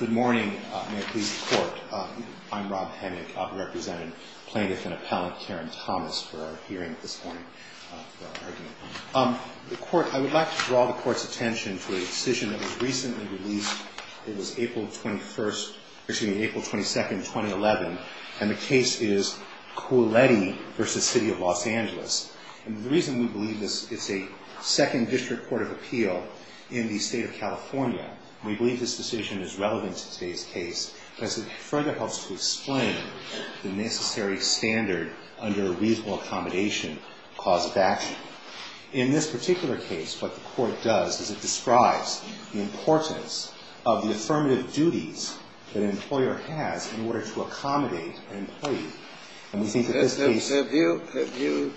Good morning. I would like to draw the court's attention to a decision that was recently released. It was April 22, 2011, and the case is Cooletti v. City of Los Angeles. And the reason we believe this, it's a second district court of appeal in the state of California. We believe this decision is relevant to today's case because it further helps to explain the necessary standard under a reasonable accommodation clause of action. In this particular case, what the court does is it describes the importance of the affirmative duties that an employer has in order to accommodate an employee. And we think that this case Have you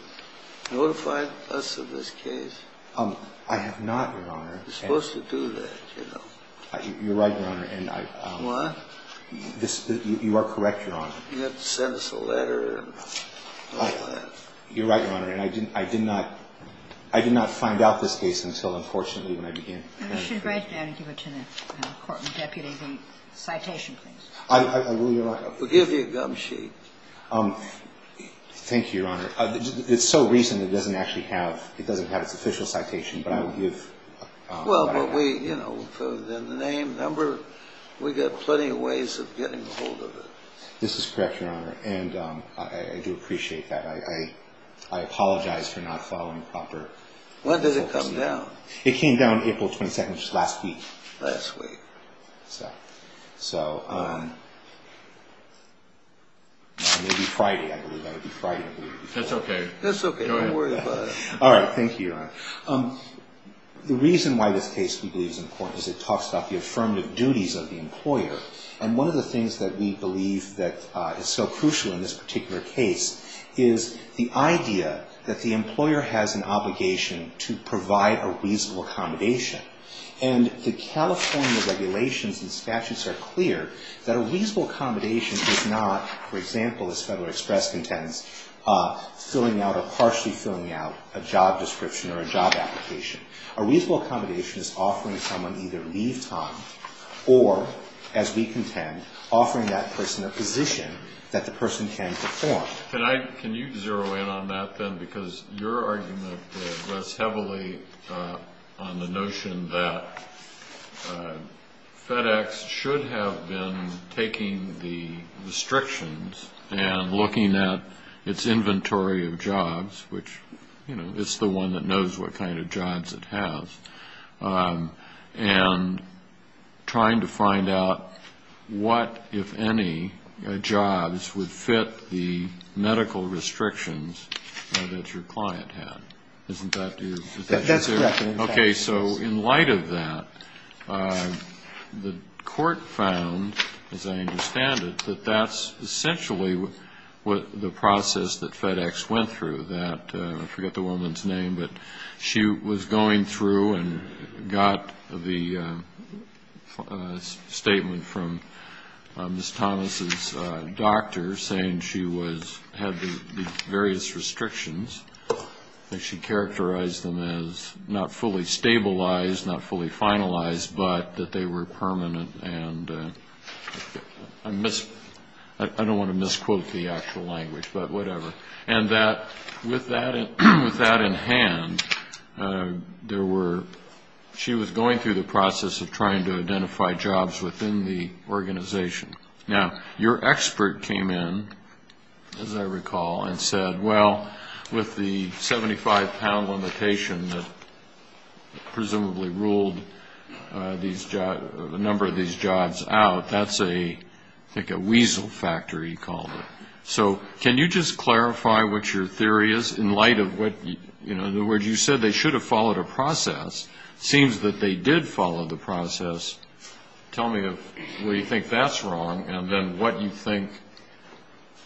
notified us of this case? I have not, Your Honor. You're supposed to do that, you know. You're right, Your Honor. What? You are correct, Your Honor. You have to send us a letter and all that. You're right, Your Honor, and I did not find out this case until, unfortunately, when I began. You should write down and give it to the court and deputy the citation, please. I will, Your Honor. We'll give you a gum sheet. Thank you, Your Honor. It's so recent it doesn't actually have, it doesn't have its official citation, but I will give. Well, but we, you know, the name, number, we've got plenty of ways of getting a hold of it. This is correct, Your Honor, and I do appreciate that. I apologize for not following proper. When did it come down? It came down April 22nd, which is last week. Last week. So, it will be Friday, I believe. That's okay. That's okay, don't worry about it. All right, thank you, Your Honor. The reason why this case, we believe, is important is it talks about the affirmative duties of the employer. And one of the things that we believe that is so crucial in this particular case is the idea that the employer has an obligation to provide a reasonable accommodation. And the California regulations and statutes are clear that a reasonable accommodation is not, for example, as Federal Express contends, filling out or partially filling out a job description or a job application. A reasonable accommodation is offering someone either leave time or, as we contend, offering that person a position that the person can perform. Can you zero in on that then? Because your argument rests heavily on the notion that FedEx should have been taking the restrictions and looking at its inventory of jobs, which, you know, it's the one that knows what kind of jobs it has, and trying to find out what, if any, jobs would fit the medical restrictions that your client had. Isn't that your position? That's correct. Okay, so in light of that, the court found, as I understand it, that that's essentially what the process that FedEx went through, I forget the woman's name, but she was going through and got the statement from Ms. Thomas' doctor saying she had the various restrictions, and she characterized them as not fully stabilized, not fully finalized, but that they were permanent. And I don't want to misquote the actual language, but whatever. And that with that in hand, she was going through the process of trying to identify jobs within the organization. Now, your expert came in, as I recall, and said, well, with the 75-pound limitation that presumably ruled a number of these jobs out, that's a, I think, a weasel factor, he called it. So can you just clarify what your theory is in light of what, you know, in other words, you said they should have followed a process. It seems that they did follow the process. Tell me what you think that's wrong, and then what you think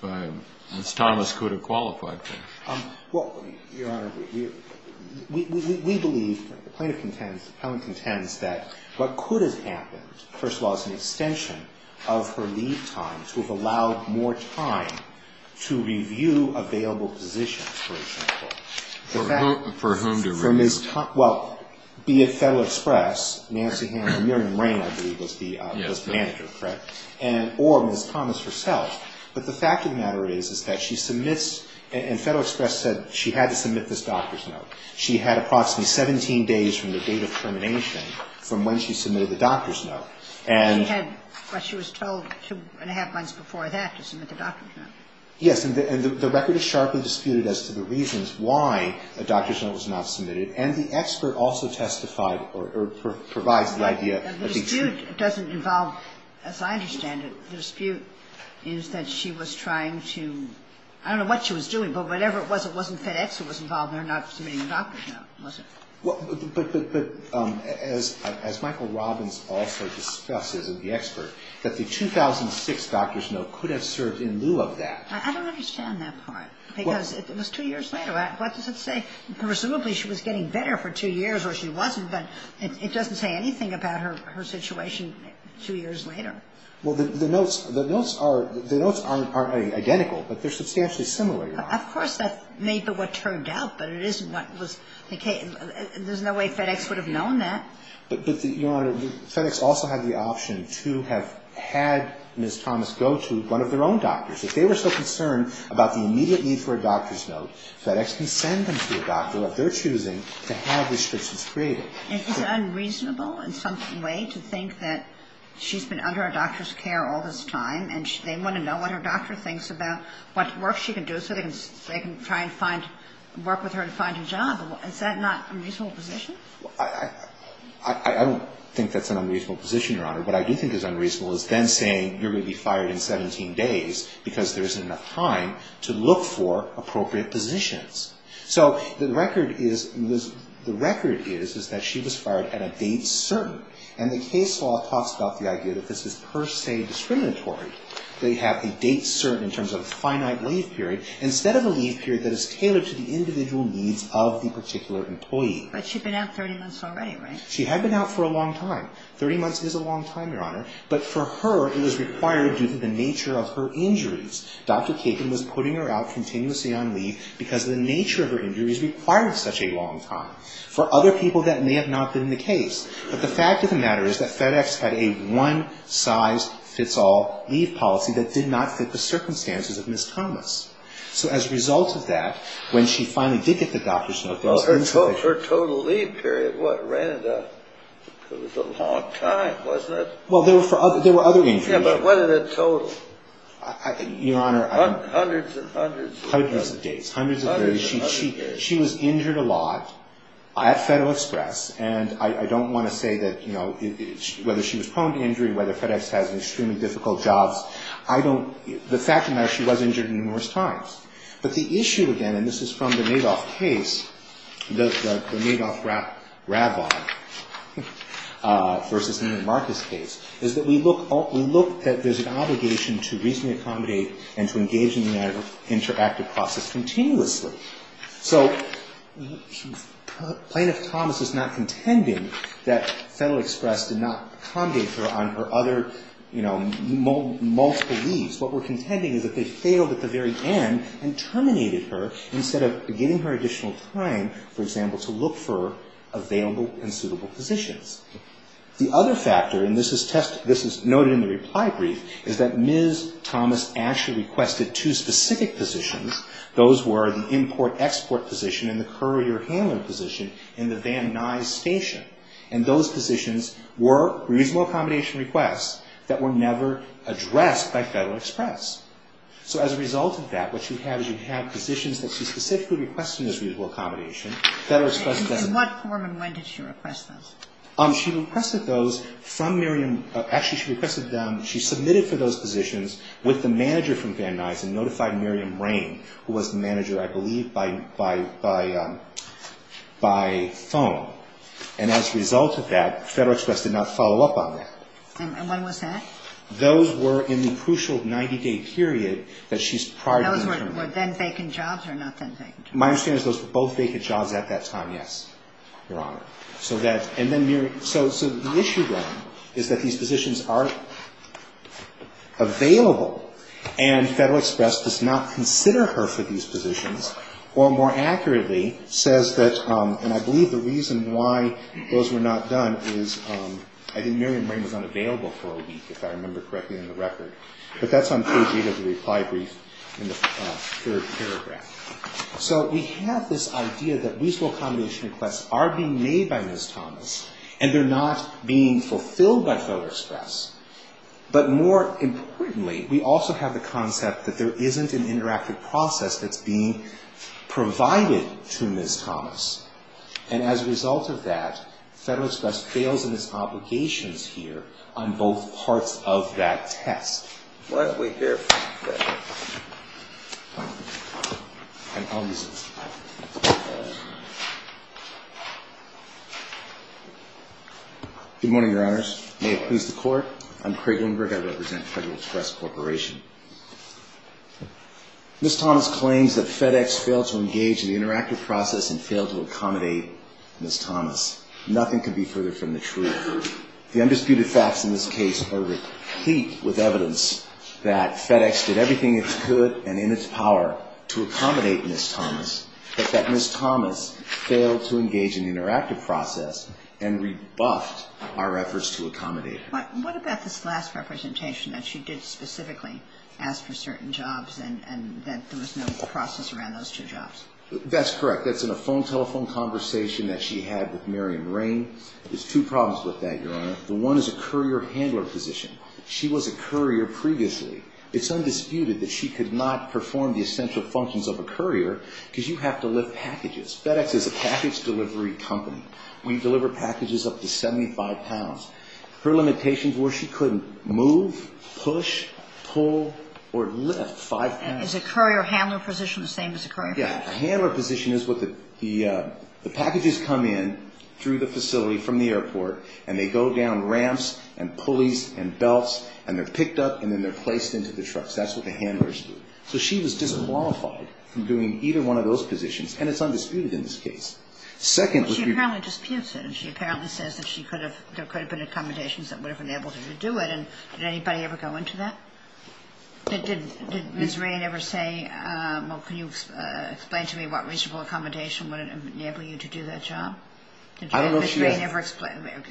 Ms. Thomas could have qualified for. Well, Your Honor, we believe, the plaintiff contends that what could have happened, first of all, was an extension of her leave time to have allowed more time to review available positions, for example. For whom to review? Well, be it Federal Express, Nancy Hammond, I believe was the manager, correct, or Ms. Thomas herself. But the fact of the matter is that she submits, and Federal Express said she had to submit this doctor's note. She had approximately 17 days from the date of termination from when she submitted the doctor's note. But she was told two and a half months before that to submit the doctor's note. Yes. And the record is sharply disputed as to the reasons why a doctor's note was not submitted. And the expert also testified or provides the idea. The dispute doesn't involve, as I understand it, the dispute is that she was trying to, I don't know what she was doing, but whatever it was, it wasn't FedEx that was involved in her not submitting the doctor's note, was it? Well, but as Michael Robbins also discusses of the expert, that the 2006 doctor's note could have served in lieu of that. I don't understand that part, because it was two years later. What does it say? Presumably she was getting better for two years or she wasn't, but it doesn't say anything about her situation two years later. Well, the notes are identical, but they're substantially similar, Your Honor. Of course, that may be what turned out, but it isn't what was the case. There's no way FedEx would have known that. But, Your Honor, FedEx also had the option to have had Ms. Thomas go to one of their own doctors. If they were so concerned about the immediate need for a doctor's note, FedEx can send them to a doctor of their choosing to have restrictions created. Is it unreasonable in some way to think that she's been under a doctor's care all this time, and they want to know what her doctor thinks about what work she can do so they can try and work with her to find a job? Is that not an unreasonable position? I don't think that's an unreasonable position, Your Honor. What I do think is unreasonable is them saying you're going to be fired in 17 days because there isn't enough time to look for appropriate positions. So the record is that she was fired at a date certain. And the case law talks about the idea that this is per se discriminatory. They have a date certain in terms of a finite leave period instead of a leave period that is tailored to the individual needs of the particular employee. But she'd been out 30 months already, right? She had been out for a long time. Thirty months is a long time, Your Honor. But for her, it was required due to the nature of her injuries. Dr. Kagan was putting her out continuously on leave because the nature of her injuries required such a long time. For other people, that may have not been the case. But the fact of the matter is that FedEx had a one-size-fits-all leave policy that did not fit the circumstances of Ms. Thomas. So as a result of that, when she finally did get the doctor's notice, Ms. Thomas… Her total leave period, what, ran it up? It was a long time, wasn't it? Well, there were other injuries. Yeah, but what are the total? Your Honor, I don't know. Hundreds and hundreds. Hundreds of days. Hundreds of days. Hundreds and hundreds of days. She was injured a lot at FedExpress. And I don't want to say that, you know, whether she was prone to injury, whether FedEx has extremely difficult jobs, I don't… The fact of the matter, she was injured numerous times. But the issue, again, and this is from the Madoff case, the Madoff-Rabbi versus Neiman Marcus case, is that we look at there's an obligation to reasonably accommodate and to engage in the interactive process continuously. So Plaintiff Thomas is not contending that FedExpress did not accommodate her on her other, you know, multiple leaves. What we're contending is that they failed at the very end and terminated her instead of giving her additional time, for example, to look for available and suitable positions. The other factor, and this is noted in the reply brief, is that Ms. Thomas actually requested two specific positions. Those were the import-export position and the courier-handler position in the Van Nuys station. And those positions were reasonable accommodation requests that were never addressed by FedExpress. So as a result of that, what you have is you have positions that she specifically requested as reasonable accommodation. FedExpress doesn't. And in what form and when did she request those? She requested those from Miriam. Actually, she submitted for those positions with the manager from Van Nuys and notified Miriam Rain, who was the manager, I believe, by phone. And as a result of that, FedExpress did not follow up on that. And when was that? Those were in the crucial 90-day period that she's prior to being terminated. Those were then vacant jobs or not then vacant jobs? My understanding is those were both vacant jobs at that time, yes, Your Honor. So the issue, then, is that these positions are available and FedExpress does not consider her for these positions or, more accurately, says that, and I believe the reason why those were not done is I think Miriam Rain was unavailable for a week, if I remember correctly, in the record. But that's on page 8 of the reply brief in the third paragraph. So we have this idea that reasonable accommodation requests are being made by Ms. Thomas and they're not being fulfilled by FedExpress. But more importantly, we also have the concept that there isn't an interactive process that's being provided to Ms. Thomas. And as a result of that, FedExpress fails in its obligations here on both parts of that test. Why don't we hear from Ms. Thomas? I'll use this. Good morning, Your Honors. May it please the Court. I'm Craig Lindberg. I represent Federal Express Corporation. Ms. Thomas claims that FedEx failed to engage in the interactive process and failed to accommodate Ms. Thomas. Nothing could be further from the truth. The undisputed facts in this case are replete with evidence that FedEx did everything it could and in its power to accommodate Ms. Thomas, but that Ms. Thomas failed to engage in the interactive process and rebuffed our efforts to accommodate her. What about this last representation that she did specifically ask for certain jobs and that there was no process around those two jobs? That's correct. That's in a phone telephone conversation that she had with Miriam Rain. There's two problems with that, Your Honor. The one is a courier handler position. She was a courier previously. It's undisputed that she could not perform the essential functions of a courier because you have to lift packages. FedEx is a package delivery company. We deliver packages up to 75 pounds. Her limitations were she couldn't move, push, pull, or lift 5 pounds. And is a courier handler position the same as a courier handler position? Yeah. A handler position is what the packages come in through the facility from the airport and they go down ramps and pulleys and belts, and they're picked up and then they're placed into the trucks. That's what the handlers do. So she was disqualified from doing either one of those positions, and it's undisputed in this case. She apparently disputes it, and she apparently says that there could have been accommodations that would have enabled her to do it. And did anybody ever go into that? Did Ms. Rain ever say, well, can you explain to me what reasonable accommodation would enable you to do that job? Did Ms. Rain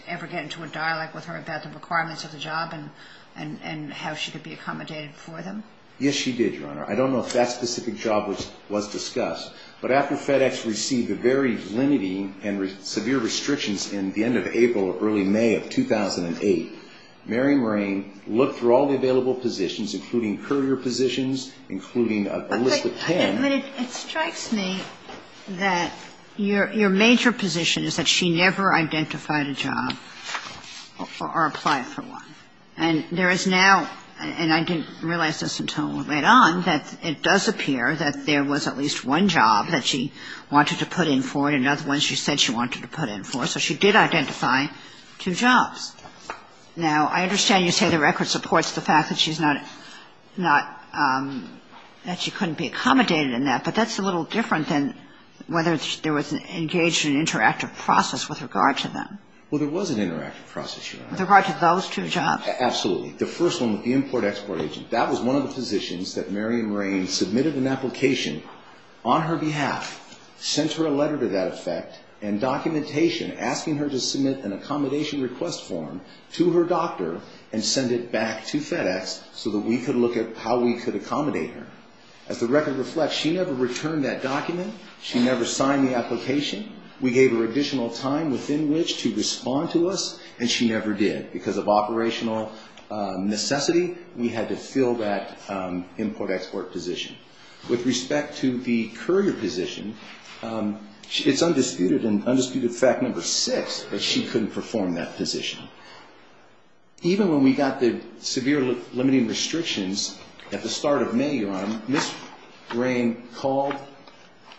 ever get into a dialogue with her about the requirements of the job and how she could be accommodated for them? Yes, she did, Your Honor. I don't know if that specific job was discussed, but after FedEx received the very limiting and severe restrictions in the end of April or early May of 2008, Mary Rain looked through all the available positions, including courier positions, including a list of ten. But it strikes me that your major position is that she never identified a job or applied for one. And there is now, and I didn't realize this until we went on, that it does appear that there was at least one job that she wanted to put in for and another one she said she wanted to put in for. So she did identify two jobs. Now, I understand you say the record supports the fact that she's not, that she couldn't be accommodated in that, but that's a little different than whether there was engaged in an interactive process with regard to them. Well, there was an interactive process, Your Honor. With regard to those two jobs? Absolutely. The first one with the import-export agent, that was one of the positions that Mary Rain submitted an application on her behalf, sent her a letter to that effect, and documentation asking her to submit an accommodation request form to her doctor and send it back to FedEx so that we could look at how we could accommodate her. As the record reflects, she never returned that document. She never signed the application. We gave her additional time within which to respond to us, and she never did. Because of operational necessity, we had to fill that import-export position. With respect to the courier position, it's undisputed and undisputed fact number six that she couldn't perform that position. Even when we got the severe limiting restrictions at the start of May, Your Honor, Ms. Rain called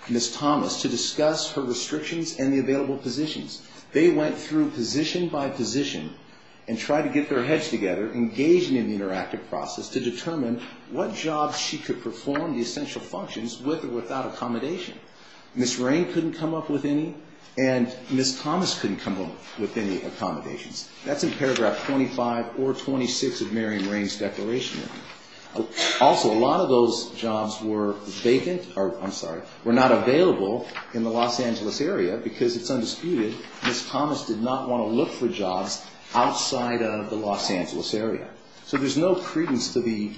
Ms. Thomas to discuss her restrictions and the available positions. They went through position by position and tried to get their heads together, engaging in the interactive process to determine what jobs she could perform, the essential functions, with or without accommodation. Ms. Rain couldn't come up with any, and Ms. Thomas couldn't come up with any accommodations. That's in paragraph 25 or 26 of Mary Rain's declaration. Also, a lot of those jobs were vacant or, I'm sorry, were not available in the Los Angeles area because it's undisputed Ms. Thomas did not want to look for jobs outside of the Los Angeles area. So there's no credence to the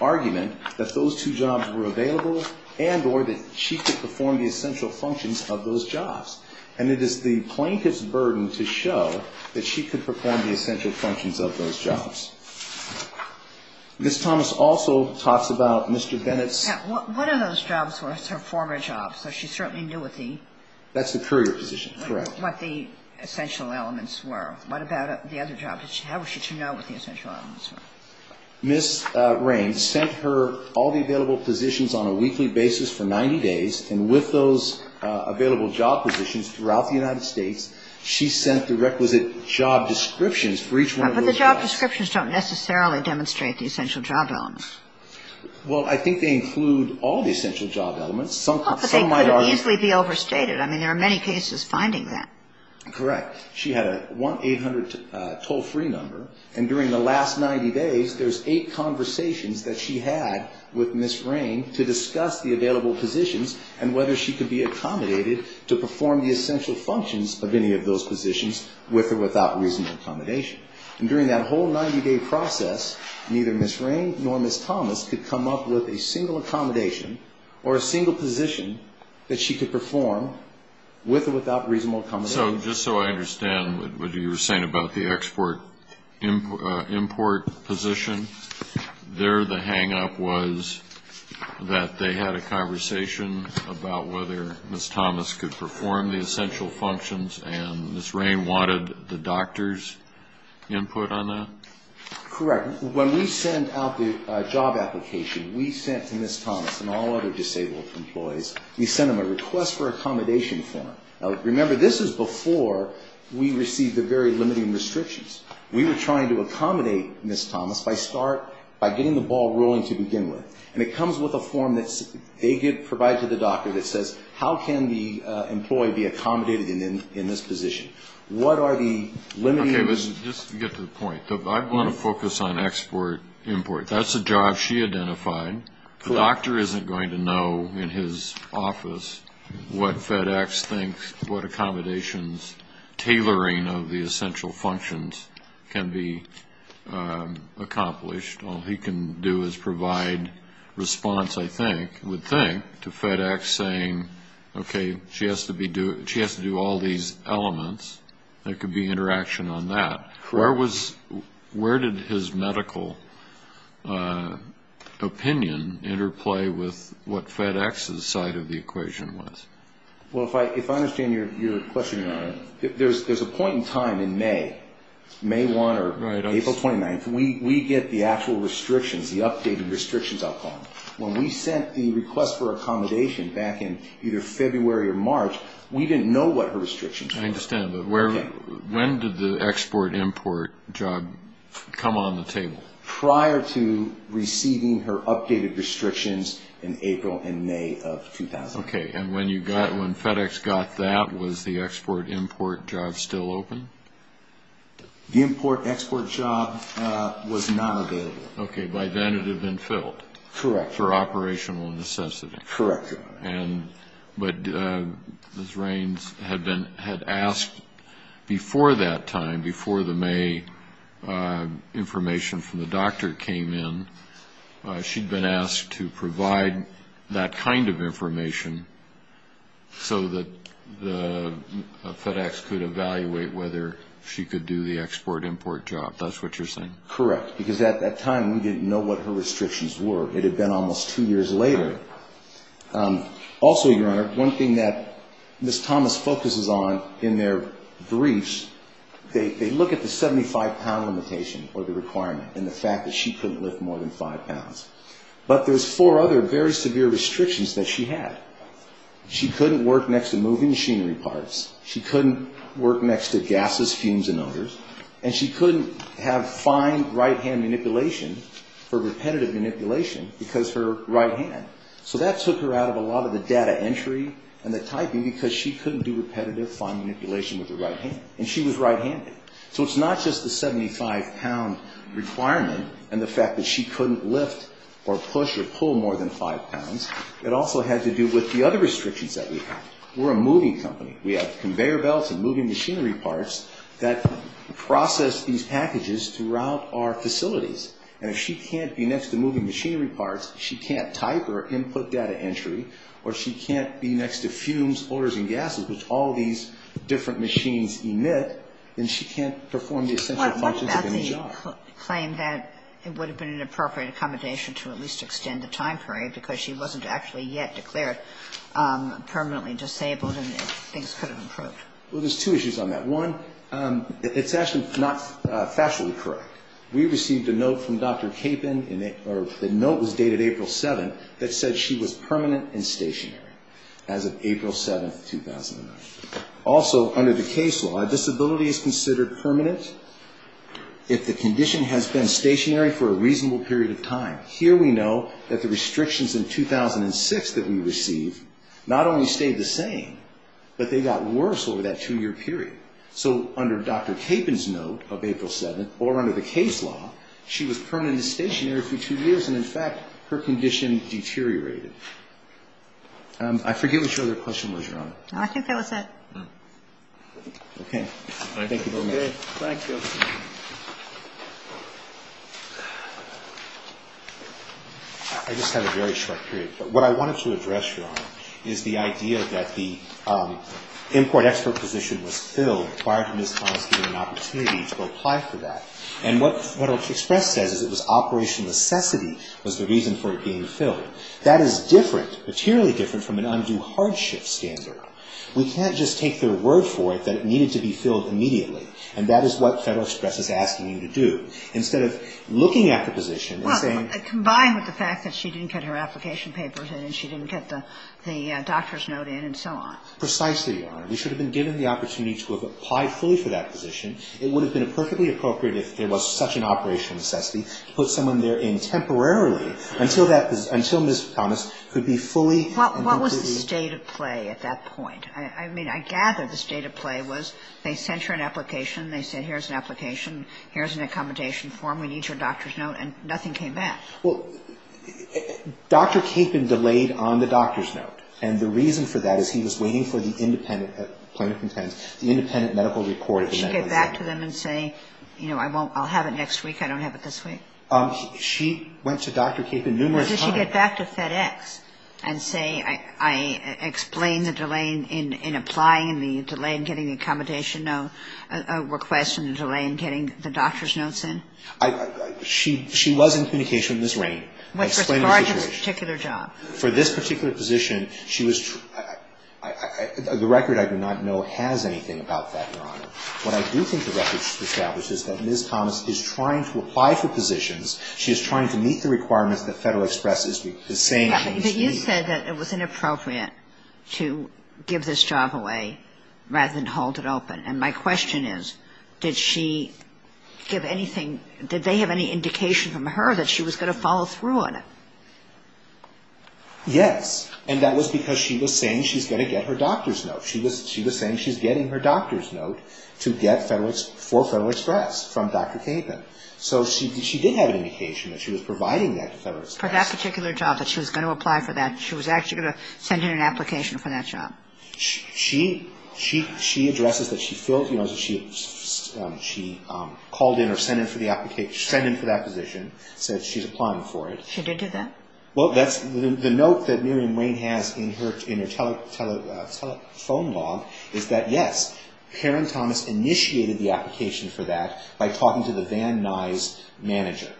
argument that those two jobs were available and or that she could perform the essential functions of those jobs. And it is the plaintiff's burden to show that she could perform the essential functions of those jobs. Ms. Thomas also talks about Mr. Bennett's ---- That's the courier position, correct. What the essential elements were. What about the other jobs? How was she to know what the essential elements were? Ms. Rain sent her all the available positions on a weekly basis for 90 days, and with those available job positions throughout the United States, she sent the requisite job descriptions for each one of those jobs. But the job descriptions don't necessarily demonstrate the essential job elements. Well, I think they include all the essential job elements. Some might argue ---- Correct. She had a 1-800 toll-free number, and during the last 90 days there's eight conversations that she had with Ms. Rain to discuss the available positions and whether she could be accommodated to perform the essential functions of any of those positions with or without reasonable accommodation. And during that whole 90-day process, neither Ms. Rain nor Ms. Thomas could come up with a single accommodation or a single position that she could perform with or without reasonable accommodation. So just so I understand what you were saying about the export-import position, there the hang-up was that they had a conversation about whether Ms. Thomas could perform the essential functions, and Ms. Rain wanted the doctor's input on that? Correct. When we sent out the job application, we sent to Ms. Thomas and all other disabled employees, we sent them a request for accommodation form. Now, remember, this is before we received the very limiting restrictions. We were trying to accommodate Ms. Thomas by getting the ball rolling to begin with. And it comes with a form that they provide to the doctor that says, how can the employee be accommodated in this position? What are the limiting ---- Okay. Let's just get to the point. I want to focus on export-import. That's a job she identified. The doctor isn't going to know in his office what FedEx thinks, what accommodations, tailoring of the essential functions can be accomplished. All he can do is provide response, I think, would think, to FedEx saying, okay, she has to do all these elements. There could be interaction on that. Where did his medical opinion interplay with what FedEx's side of the equation was? Well, if I understand your question, there's a point in time in May, May 1 or April 29th, we get the actual restrictions, the updated restrictions I'll call them. When we sent the request for accommodation back in either February or March, we didn't know what her restrictions were. I understand. But when did the export-import job come on the table? Prior to receiving her updated restrictions in April and May of 2000. Okay. And when FedEx got that, was the export-import job still open? The import-export job was not available. Okay. By then it had been filled. Correct. For operational necessity. Correct. But Ms. Raines had asked before that time, before the May information from the doctor came in, she'd been asked to provide that kind of information so that FedEx could evaluate whether she could do the export-import job. That's what you're saying? Correct. Because at that time we didn't know what her restrictions were. It had been almost two years later. Also, Your Honor, one thing that Ms. Thomas focuses on in their briefs, they look at the 75-pound limitation or the requirement and the fact that she couldn't lift more than five pounds. But there's four other very severe restrictions that she had. She couldn't work next to moving machinery parts. And she couldn't have fine right-hand manipulation for repetitive manipulation because her right hand. So that took her out of a lot of the data entry and the typing because she couldn't do repetitive fine manipulation with her right hand. And she was right-handed. So it's not just the 75-pound requirement and the fact that she couldn't lift or push or pull more than five pounds. It also had to do with the other restrictions that we had. We're a moving company. We have conveyor belts and moving machinery parts that process these packages throughout our facilities. And if she can't be next to moving machinery parts, she can't type or input data entry, or she can't be next to fumes, odors and gases, which all these different machines emit, then she can't perform the essential functions of a new job. What about the claim that it would have been an appropriate accommodation to at least extend the time period because she wasn't actually yet declared permanently disabled and things could have improved? Well, there's two issues on that. One, it's actually not factually correct. We received a note from Dr. Capon, or the note was dated April 7th, that said she was permanent and stationary as of April 7th, 2009. Also, under the case law, a disability is considered permanent if the condition has been stationary for a reasonable period of time. Here we know that the restrictions in 2006 that we received not only stayed the same, but they got worse over that two-year period. So under Dr. Capon's note of April 7th, or under the case law, she was permanent and stationary for two years, and in fact, her condition deteriorated. I forget what your other question was, Your Honor. I think that was it. Okay. Thank you very much. Thank you. I just have a very short period. But what I wanted to address, Your Honor, is the idea that the import-export position was filled prior to Ms. Collins getting an opportunity to apply for that. And what Federal Express says is it was operational necessity was the reason for it being filled. That is different, materially different, from an undue hardship standard. We can't just take their word for it that it needed to be filled immediately, and that is what Federal Express is asking you to do. Instead of looking at the position and saying — Well, combined with the fact that she didn't get her application papers in and she didn't get the doctor's note in and so on. Precisely, Your Honor. We should have been given the opportunity to have applied fully for that position. It would have been perfectly appropriate if there was such an operational necessity to put someone there in temporarily until that — until Ms. Thomas could be fully — What was the state of play at that point? I mean, I gather the state of play was they sent her an application. They said, here's an application. Here's an accommodation form. We need your doctor's note. And nothing came back. Well, Dr. Capon delayed on the doctor's note. And the reason for that is he was waiting for the independent — plaintiff contends — the independent medical report of the medical center. Did she get back to them and say, you know, I won't — I'll have it next week. I don't have it this week. She went to Dr. Capon numerous times. Did she get back to FedEx and say, I explained the delay in applying and the delay in getting the accommodation note request and the delay in getting the doctor's notes in? She was in communication with Ms. Rain. I explained the situation. As far as this particular job. For this particular position, she was — the record I do not know has anything about that, Your Honor. What I do think the record establishes is that Ms. Thomas is trying to apply for positions. She is trying to meet the requirements that Federal Express is saying things to me. But you said that it was inappropriate to give this job away rather than hold it open. And my question is, did she give anything — did they have any indication from her that she was going to follow through on it? Yes. And that was because she was saying she's going to get her doctor's note. She was saying she's getting her doctor's note to get for Federal Express from Dr. Capon. So she did have an indication that she was providing that to Federal Express. For that particular job that she was going to apply for that, she was actually going to send in an application for that job? She addresses that she filled — you know, she called in or sent in for the application — sent in for that position, said she's applying for it. She did do that? Well, that's — the note that Miriam Rain has in her telephone log is that, yes, Karen Thomas initiated the application for that by talking to the Van Nuys manager.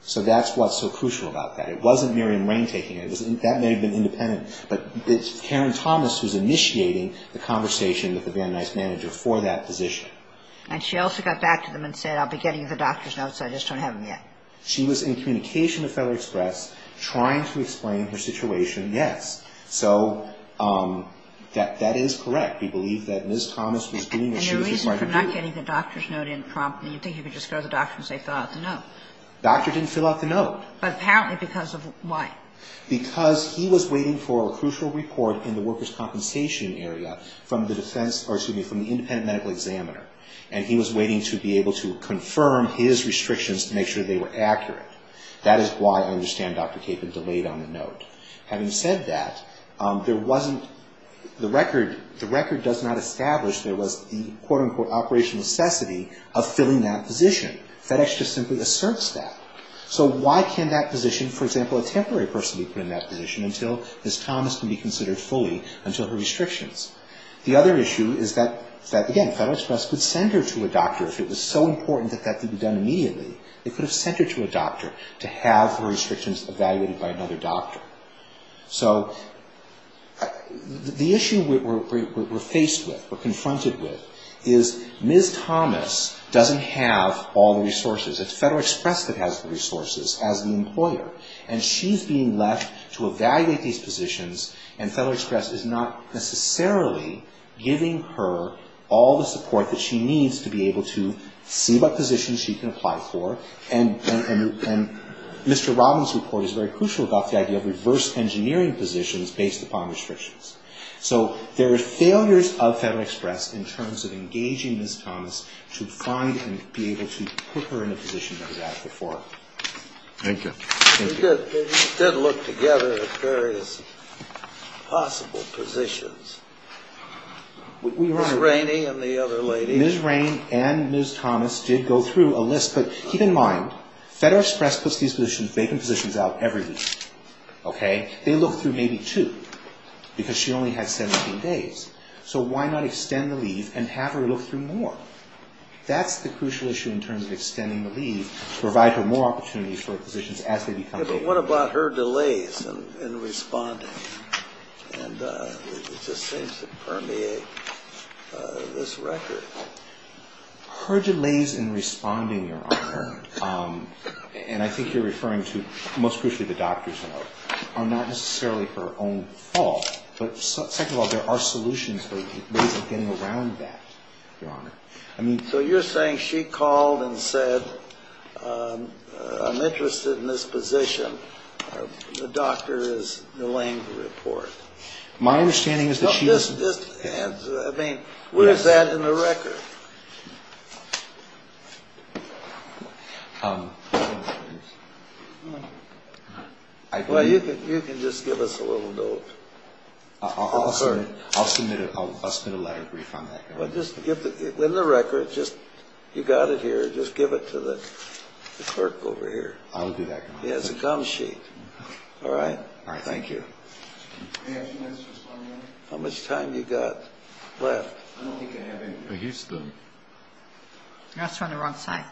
So that's what's so crucial about that. It wasn't Miriam Rain taking it. That may have been independent. But it's Karen Thomas who's initiating the conversation with the Van Nuys manager for that position. And she also got back to them and said, I'll be getting the doctor's notes. I just don't have them yet. She was in communication with Federal Express trying to explain her situation, yes. So that is correct. We believe that Ms. Thomas was doing what she was required to do. And the reason for not getting the doctor's note in promptly, you think he could just go to the doctor and say, fill out the note? The doctor didn't fill out the note. But apparently because of what? Because he was waiting for a crucial report in the workers' compensation area from the defense — or, excuse me, from the independent medical examiner. And he was waiting to be able to confirm his restrictions to make sure they were accurate. That is why I understand Dr. Capon delayed on the note. Having said that, there wasn't — the record does not establish there was the quote-unquote operational necessity of filling that position. Federal Express just simply asserts that. So why can't that position, for example, a temporary person be put in that position until Ms. Thomas can be considered fully, until her restrictions? The other issue is that, again, Federal Express could send her to a doctor if it was so important that that could be done immediately. They could have sent her to a doctor to have her restrictions evaluated by another doctor. So the issue we're faced with, we're confronted with, is Ms. Thomas doesn't have all the resources. It's Federal Express that has the resources as the employer. And she's being left to evaluate these positions, and Federal Express is not necessarily giving her all the support that she needs to be able to see what positions she can apply for. And Mr. Robbins' report is very crucial about the idea of reverse engineering positions based upon restrictions. So there are failures of Federal Express in terms of engaging Ms. Thomas to find and be able to put her in a position that was asked before. Thank you. Thank you. We did look together at various possible positions. Ms. Rainey and the other lady. Ms. Rainey and Ms. Thomas did go through a list. But keep in mind, Federal Express puts these positions, vacant positions out every week. Okay? They look through maybe two because she only had 17 days. So why not extend the leave and have her look through more? That's the crucial issue in terms of extending the leave to provide her more opportunities for positions as they become vacant. But what about her delays in responding? And it just seems to permeate this record. Her delays in responding, Your Honor, and I think you're referring to most crucially the doctors and others, are not necessarily her own fault. But second of all, there are solutions for ways of getting around that, Your Honor. So you're saying she called and said, I'm interested in this position. The doctor is delaying the report. My understanding is that she... I mean, where's that in the record? Well, you can just give us a little note. I'll submit a letter of brief on that. In the record, you got it here. Just give it to the clerk over here. I'll do that, Your Honor. He has a gum sheet. All right? All right, thank you. How much time you got left? I don't think I have any. He's still... No, it's on the wrong side.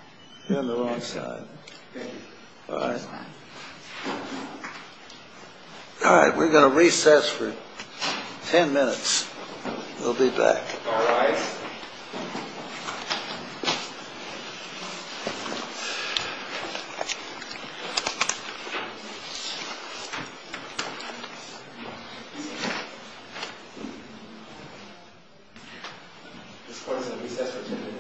On the wrong side. Thank you. All right. All right, we're going to recess for 10 minutes. We'll be back. All rise. This court is in recess for 10 minutes. Thank you.